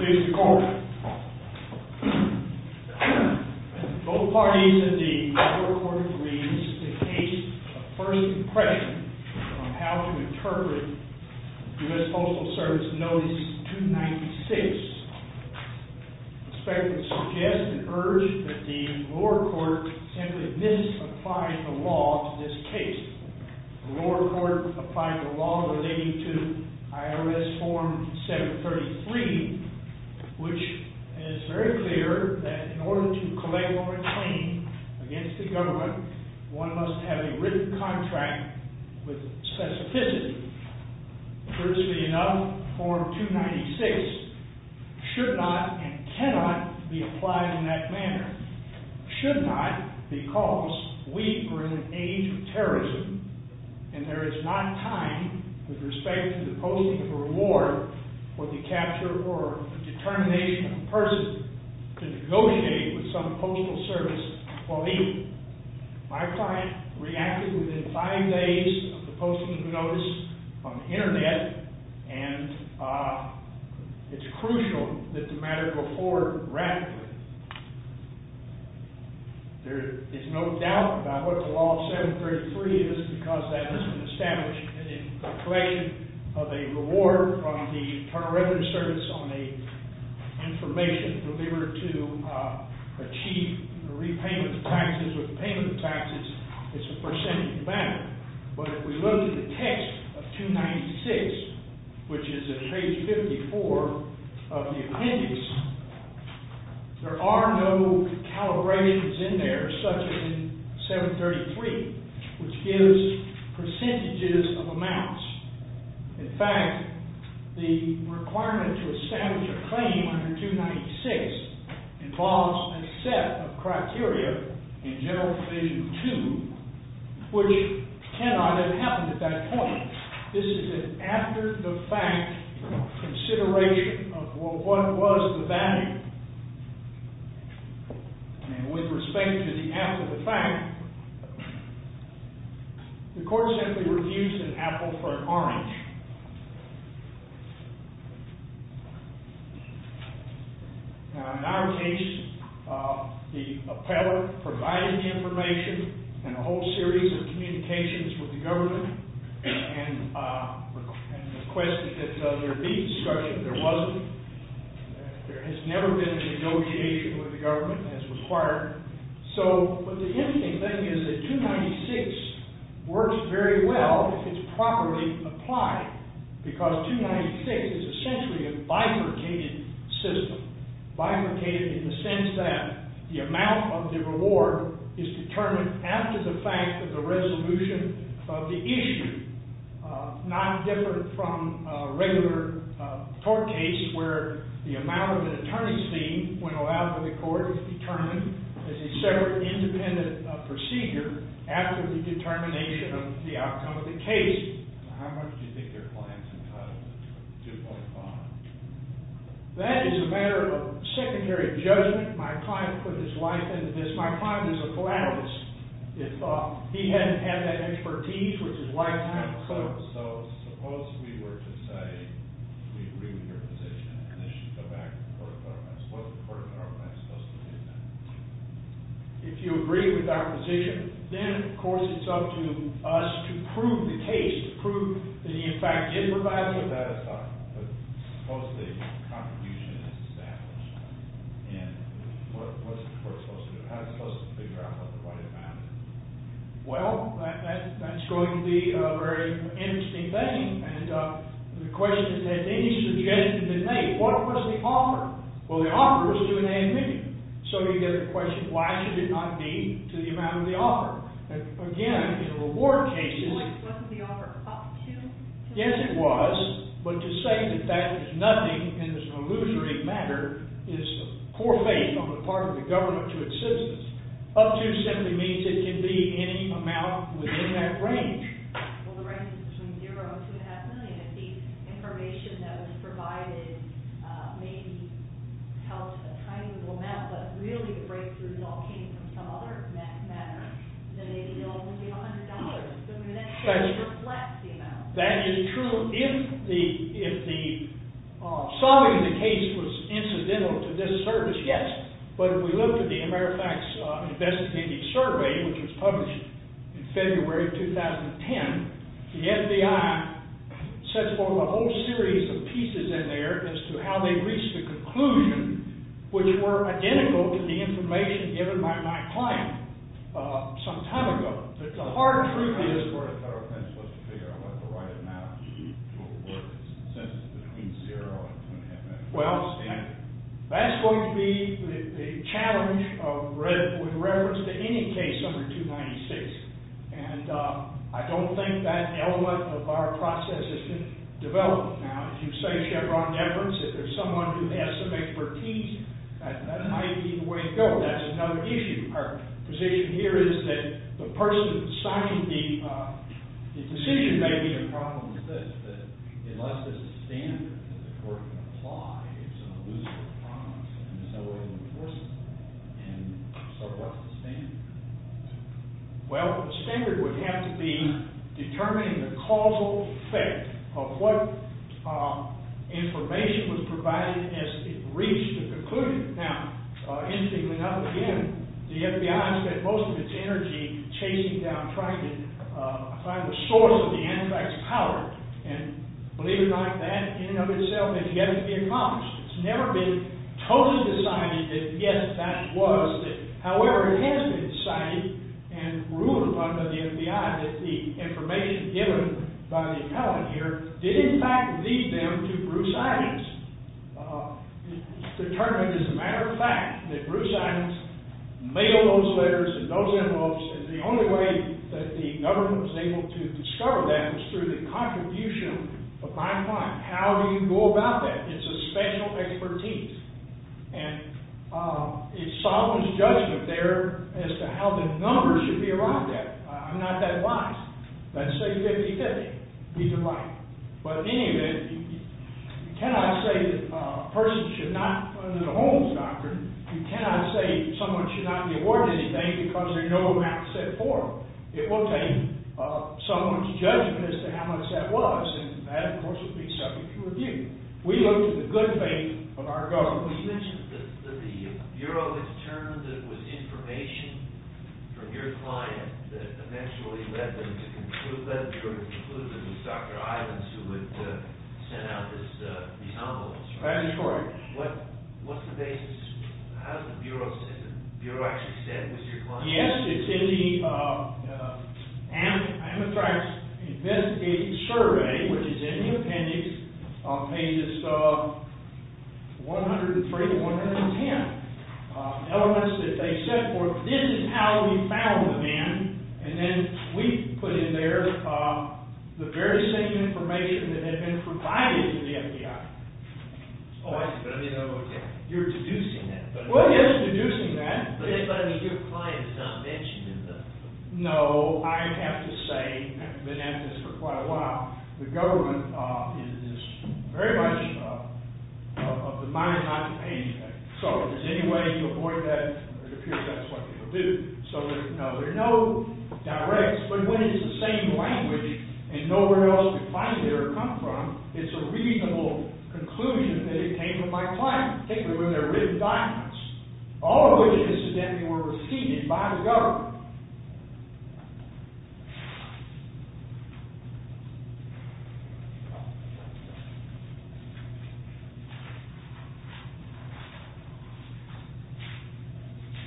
May it please the court, both parties in the lower court agreed that in case of first impression on how to interpret U.S. Postal Service Notice 296, the spectrum suggests and urged that the lower court simply misapplied the law to this case. The lower court applied the law relating to IRS Form 733, which is very clear that in order to collect or reclaim against the government, one must have a written contract with specificity. Truthfully enough, Form 296 should not and cannot be applied in that manner. Should not because we are in an age of terrorism and there is not time with respect to the posting of a reward for the capture or determination of a person to negotiate with some postal service while legal. My client reacted within five days of the posting of the notice on the internet and it's crucial that the matter go forward rapidly. There is no doubt about what the law of 733 is because that is an established collection of a reward from the Internal Revenue Service on the information delivered to achieve the repayment of taxes. With the payment of taxes, it's a percentage amount. But if we look at the text of 296, which is in page 54 of the appendix, there are no calibrations in there such as in 733, which gives percentages of amounts. In fact, the requirement to establish a claim under 296 involves a set of criteria in General Provision 2, which cannot have happened at that point. This is an after-the-fact consideration of what was the value. And with respect to the after-the-fact, the court simply refused an apple for an orange. In our case, the appellate provided information and a whole series of communications with the government and requested that there be discussion, but there wasn't. There has never been a negotiation with the government as required. But the interesting thing is that 296 works very well if it's properly applied because 296 is essentially a bifurcated system, bifurcated in the sense that the amount of the reward is determined after the fact of the resolution of the issue, not different from a regular court case where the amount of an attorney's fee when allowed by the court is determined as a separate independent procedure after the determination of the outcome of the case. How much do you think their client's entitled to? 2.5? That is a matter of secondary judgment. My client put his life into this. My client is a philatelist. He hadn't had that expertise with his lifetime. So suppose we were to say we agree with your position and this should go back to the court of arguments. What's the court of arguments supposed to do then? If you agree with our position, then of course it's up to us to prove the case, to prove that he in fact did provide for it. Supposedly, a contribution is established. And what's the court supposed to do? How's it supposed to figure out what the right amount is? Well, that's going to be a very interesting thing. And the question is, has any suggestion been made? What was the offer? Well, the offer was to an admin. So you get the question, why should it not be to the amount of the offer? Again, in a reward case, it's like... Wasn't the offer up to... Yes, it was. But to say that there's nothing in this illusory matter is poor faith on the part of the government to its citizens. Up to simply means it can be any amount within that range. Well, the range is between zero and two and a half million. If the information that was provided maybe helped a tiny little amount, but really the breakthrough result came from some other matter, then maybe it'll only be $100. That is true. If solving the case was incidental to this service, yes. But if we look at the Amerifax Investigative Survey, which was published in February of 2010, the FBI sets forth a whole series of pieces in there as to how they reached a conclusion which were identical to the information given by my client some time ago. But the hard truth is... I'm not sure the federal government's supposed to figure out what the right amount to award is since it's between zero and two and a half million. Well, that's going to be the challenge with reference to any case under 296. And I don't think that element of our process has been developed. Now, if you say, Chevron Everest, if there's someone who has some expertise, that might be the way to go. That's another issue. Our position here is that the person stocking the decision may be a problem with this, but unless there's a standard that the court can apply, it's an illusory promise and there's no way to enforce it. And so what's the standard? Well, the standard would have to be determining the causal effect of what information was provided as it reached a conclusion. Now, interestingly enough, again, the FBI spent most of its energy chasing down, trying to find the source of the anti-fax power. And believe it or not, that in and of itself has yet to be accomplished. It's never been totally decided that, yes, that was it. However, it has been decided and ruled upon by the FBI that the information given by the appellate here did, in fact, lead them to Bruce Adams. It's determined as a matter of fact that Bruce Adams mailed those letters and those envelopes, and the only way that the government was able to discover that was through the contribution of my client. How do you go about that? It's a special expertise. And it's Solomon's judgment there as to how the numbers should be arrived at. I'm not that biased. Let's say 50-50. He's right. But in any event, you cannot say that a person should not go to the homes, doctor. You cannot say someone should not be awarded anything because there's no amount set for them. It will take Solomon's judgment as to how much that was. And that, of course, would be subject to review. We looked at the good faith of our government. You mentioned that the Bureau had determined that it was information from your client that eventually led the Bureau to conclude that it was Dr. Adams who had sent out these envelopes. That's correct. What's the basis? How does the Bureau actually stand with your client? Yes, it's in the Ametrak's investigative survey, which is in the appendix on pages 103 to 110. Elements that they said, well, this is how we found the man. And then we put in there the very same information that had been provided to the FBI. Oh, I see. But I didn't know about that. You're deducing that. Well, yes, deducing that. But that doesn't mean your client is not mentioned in them. No. I have to say, I've been at this for quite a while, the government is very much of the mind not to pay anything. So if there's any way to avoid that, it appears that's what they will do. So no, there are no directs. But when it's the same language and nowhere else could find it or come from, it's a reasonable conclusion that it came from my client, particularly when they're written documents. All of which incidentally were received by the government.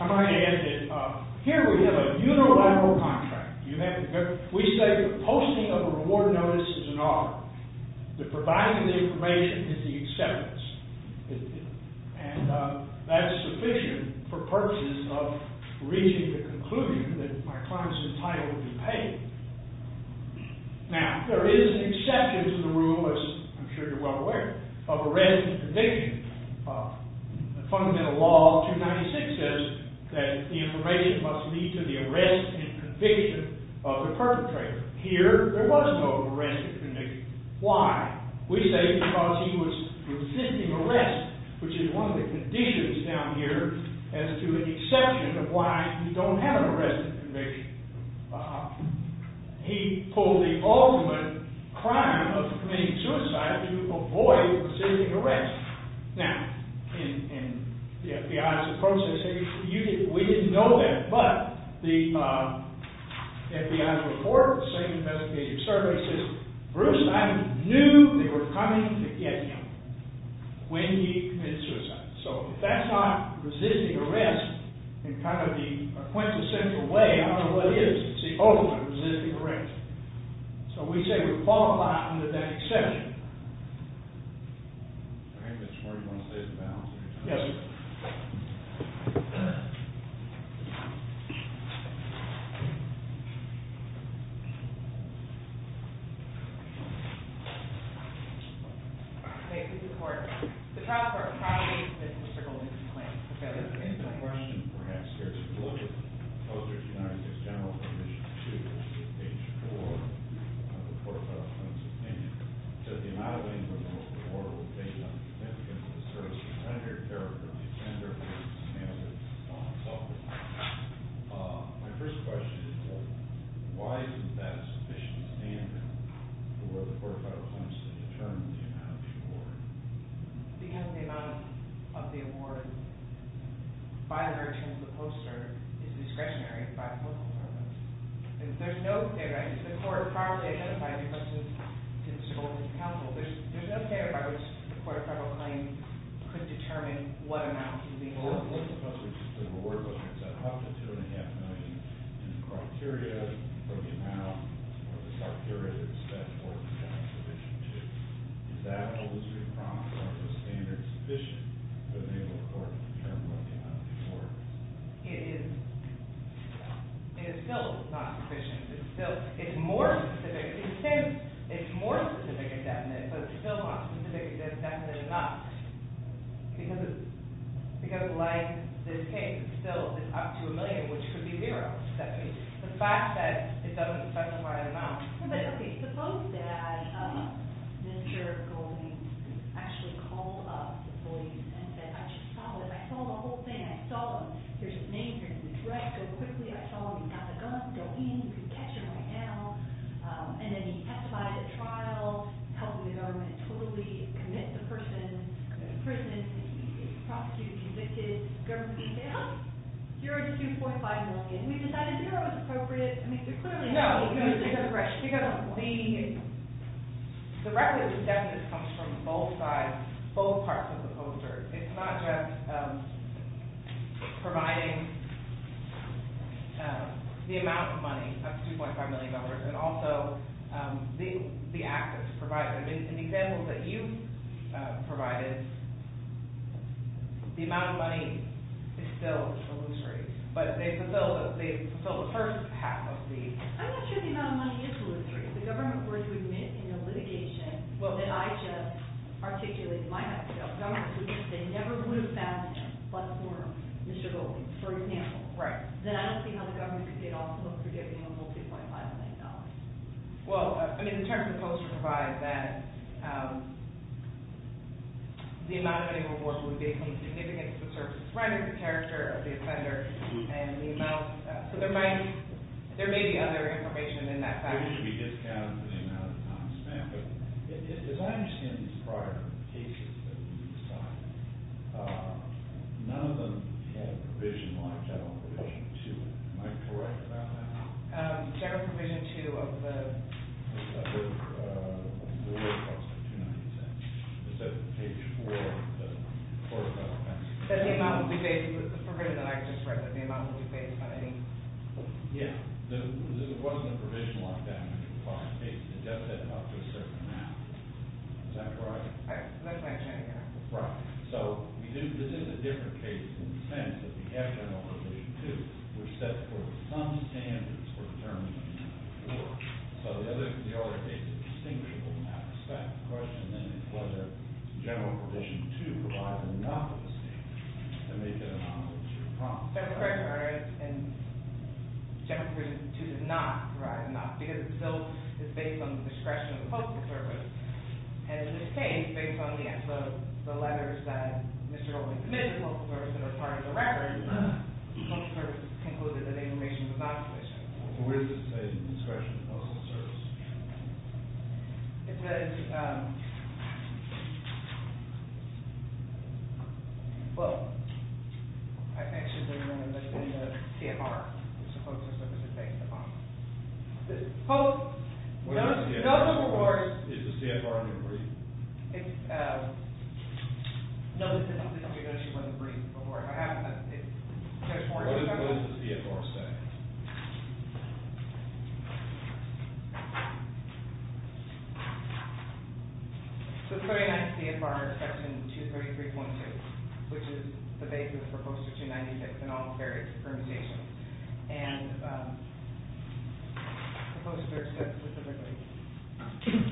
I might add that here we have a unilateral contract. We say the posting of a reward notice is an honor. The providing of the information is the acceptance. And that's sufficient for purposes of reaching the conclusion that my client's entitlement would be paid. Now, there is an exception to the rule, as I'm sure you're well aware, of arrest and conviction. Fundamental law 296 says that the information must lead to the arrest and conviction of the perpetrator. Here, there was no arrest and conviction. Why? We say because he was resisting arrest, which is one of the conditions down here as to an exception of why you don't have an arrest and conviction. He pulled the ultimate crime of committing suicide to avoid resisting arrest. Now, in the FBI's process, we didn't know that. But the FBI's report, the same investigative survey system, Bruce and I knew they were coming to get him when he committed suicide. So if that's not resisting arrest in kind of the quintessential way, I don't know what is. It's the ultimate resisting arrest. So we say we fall a lot under that exception. Yes, sir. Thank you. Thank you, Mr. Porter. The trial for a probably convicted criminal is in place. Okay. My question, perhaps, here is a little bit closer to United States General Commission 2, which is page 4 of the Court of Unsustainment. It says the amount of information the court will take on the significance of the service is under the agenda of the standards on self-defense. My first question is why isn't that a sufficient standard for the Court of Federal Claims to determine the amount of the award? Because the amount of the award by virtue of the poster is discretionary by the postal service. There's no clarity. The court probably identified it because of its role as counsel. There's no standard by which the Court of Federal Claims could determine what amount to be awarded. Well, it looks like the award goes up to $2.5 million, and the criteria for the amount or the criteria that it's set for is not sufficient. Is that a loser in crime? Is the standard sufficient to enable the court to determine what the amount is worth? It is still not sufficient. It's more specific. It says it's more specific and definite, but it's still not specific and definite enough. Because, like this case, it's still up to a million, which could be zero. The fact that it doesn't specify the amount. Okay, suppose that Mr. Golding actually called up the police and said, I just saw this. I saw the whole thing. I saw there's a name, there's a threat. I saw he got the gun, go in, you can catch him right now. And then he testified at trial, helping the government totally commit the person, imprison him, he's prosecuted, convicted. The government can say, oh, here's $2.5 million. We decided zero is appropriate. I mean, they're clearly having an abusive separation. No, because the record of the definite comes from both sides, both parts of the poster. It's not just providing the amount of money of $2.5 million, but also the assets provided. In the examples that you provided, the amount of money is still illusory. But they fulfilled the first half of the... I'm not sure the amount of money is illusory. The government were to admit in a litigation, well, then I just articulated my idea of government, which is they never would have found him but for Mr. Goldman, for example. Then I don't see how the government could get off the hook for getting a whole $2.5 million. Well, I mean, the terms of the poster provide that the amount of money rewarded would be a significant subservient to the character of the offender. So there may be other information in that fashion. It should be discounted for the amount of time spent. But as I understand these prior cases that we saw, none of them had a provision like that on Provision 2. Am I correct about that? Is there a Provision 2 of the... I believe it's also 296. It's at page 4 of the court file. That's the amount that we base, the program that I just read, that the amount that we base money. Yeah. There wasn't a provision like that in the prior case. It just said up to a certain amount. Is that correct? That's what I'm trying to get at. Right. So this is a different case in the sense that we have General Provision 2, which says where some standards were determined before. So the other case is distinguishable in that respect. The question then is whether General Provision 2 provides enough of a standard to make it enough. That's correct, Your Honor, and General Provision 2 does not provide enough because it's based on the discretion of the Postal Service. And in this case, based on the letters that Mr. Goldman committed to the Postal Service that are part of the record, the Postal Service concluded that the information was obvious. Where does it say discretion of the Postal Service? It says – well, I think she's referring to the CFR, which the Postal Service is based upon. The Postal Service – Where is the CFR? Is the CFR in the brief? No, this isn't because she wasn't briefed before it happened. What does the CFR say? The 39 CFR is Section 233.2, which is the basis for Poster 296 and all the various permutations. And the Postal Service says specifically.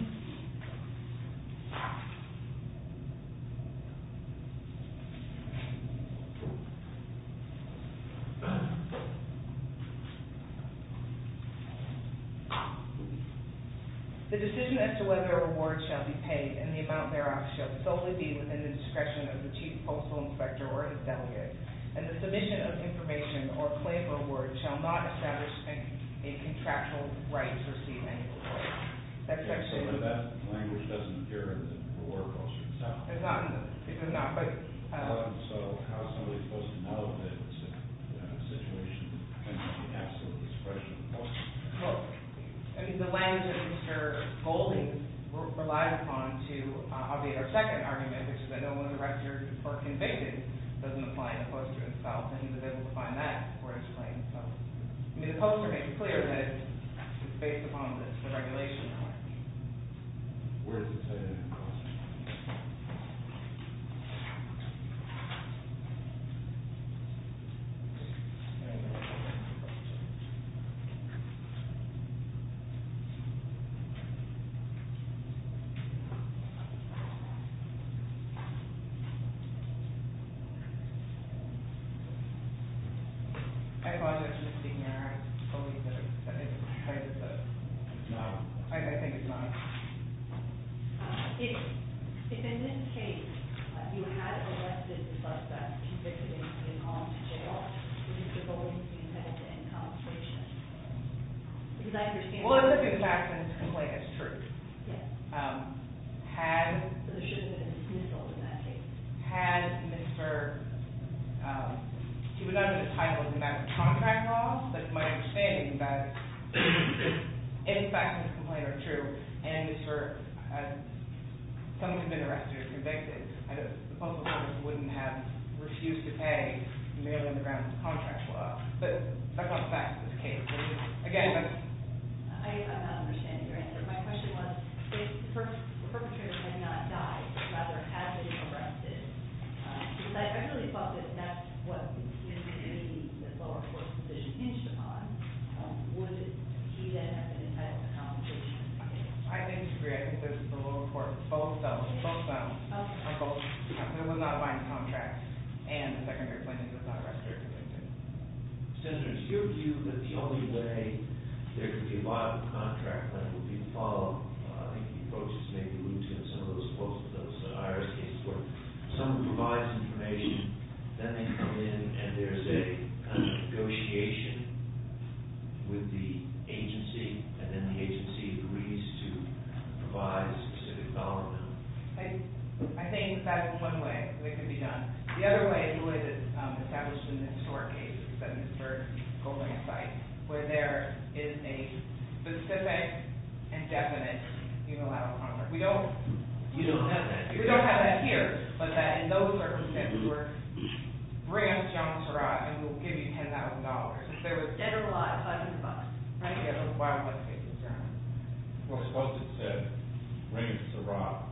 The decision as to whether a reward shall be paid and the amount thereof shall solely be within the discretion of the Chief Postal Inspector or his delegate, and the submission of information or claim of a reward shall not establish a contractual right to receive any reward. That's actually – But that language doesn't appear in the reward post itself. It does not, but – So how is somebody supposed to know that it's a situation that depends on the absolute discretion of the Postal Service? Well, I mean, the language that Mr. Golding relied upon to obviate our second argument, which is that no one registered or convicted doesn't apply in the poster itself, and he was able to find that for his claim. So, I mean, the poster makes it clear that it's based upon the regulation. Where is the CFR? I apologize, Mr. Senior. I totally didn't – I didn't try to – No. I think it's not. If in this case you had arrested the suspect convicted in all four, would Mr. Golding be sent to in-concentration? I would be sent to in-concentration. Because I understand – Well, if in fact this complaint is true. Yes. Had – So there shouldn't have been a dismissal in that case. Had Mr. – He would not have been entitled to the amount of contract loss, but it's my understanding that if in fact this complaint are true and Mr. – someone had been arrested or convicted, the Postal Service wouldn't have refused to pay merely on the grounds of contract loss. But that's not the fact of this case. Again. I'm not understanding your answer. My question was, if the perpetrator had not died, but rather had been arrested, because I really thought that that's what the community in the lower court position hinged upon, would he then have been entitled to compensation? I think you're correct. This is the lower court. Both felons – both felons – Okay. Both felons would not have mined contracts and the secondary plaintiff was not arrested or convicted. Senator, is your view that the only way there could be a viable contract that would be to follow – I think you've probably just made the allusion to some of those – both of those IRS cases where someone provides information, then they come in and there's a negotiation with the agency, and then the agency agrees to provide a specific dollar amount? I think that's one way that could be done. The other way is the way that's established in this court case, is that in the third building site, where there is a specific and definite unilateral contract. We don't – You don't have that here. We don't have that here, but that in those circumstances were, bring us John Surratt and we'll give you $10,000. If there was – $10,000. Right. That's why I'm going to take this down. Well, suppose it said, bring us Surratt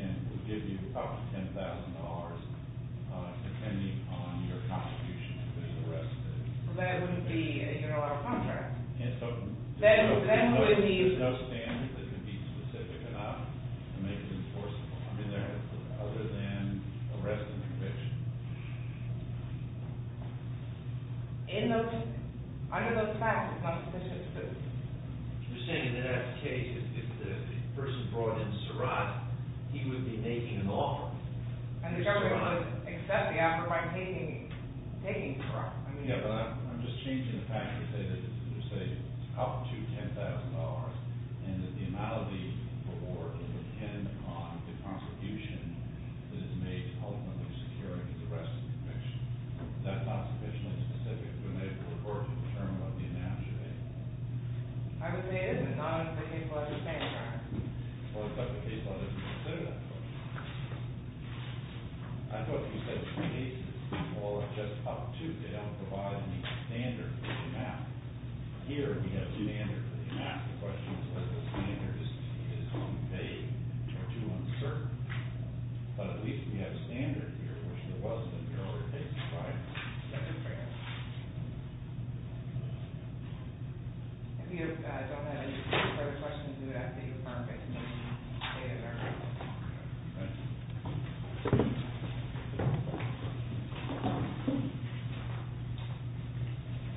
and we'll give you up to $10,000 depending on your contribution if it's arrested. Well, that wouldn't be an unilateral contract. And so – Then it wouldn't be – There's no standard that could be specific enough to make it enforceable. I mean, there – other than arrest and conviction. In those – under those facts, it's not sufficient proof. You're saying that in that case, if the person brought in Surratt, he would be making an offer. And the government would accept the offer by taking Surratt. I mean – Yeah, but I'm just changing the fact to say that – to say up to $10,000 and that the amount of the reward would depend on the contribution that is made to ultimately securing his arrest and conviction. That's not sufficiently specific. I'm not sure. I would say it is, but not in the case law that you're saying, Your Honor. Well, except the case law doesn't consider that. I thought you said the case is – well, it's just up to. They don't provide any standard for the amount. Here, we have standard for the amount. The question is whether the standard is too vague or too uncertain. But at least we have standard here, which there wasn't in the earlier case, right? That's fair. If you don't have any further questions, we would have to defer and make a motion.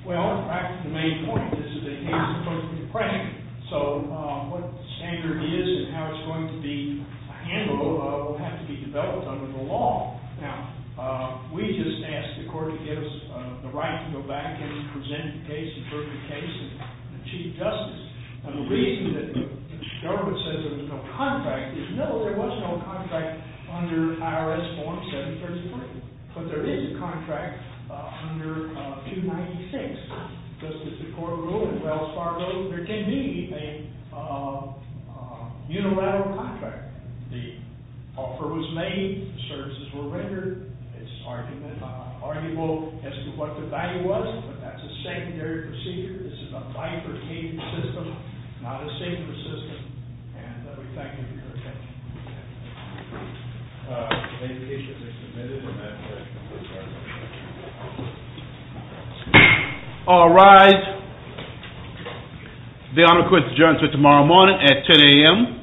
Well, in fact, the main point is that the case is supposed to be a prank. So what the standard is and how it's going to be handled will have to be developed under the law. Now, we just asked the court to give us the right to go back and present the case, the perfect case, and achieve justice. And the reason that the government says there's no contract is no, there was no contract under IRS form 733. But there is a contract under 296, just as the court ruled in Wells Fargo. There can be a unilateral contract. The offer was made. The services were rendered. It's arguable as to what the value was, but that's a secondary procedure. This is a bifurcated system, not a safer system. And we thank you for your attention. All rise. The Honor quits adjournment tomorrow morning at 10 a.m. Thank you.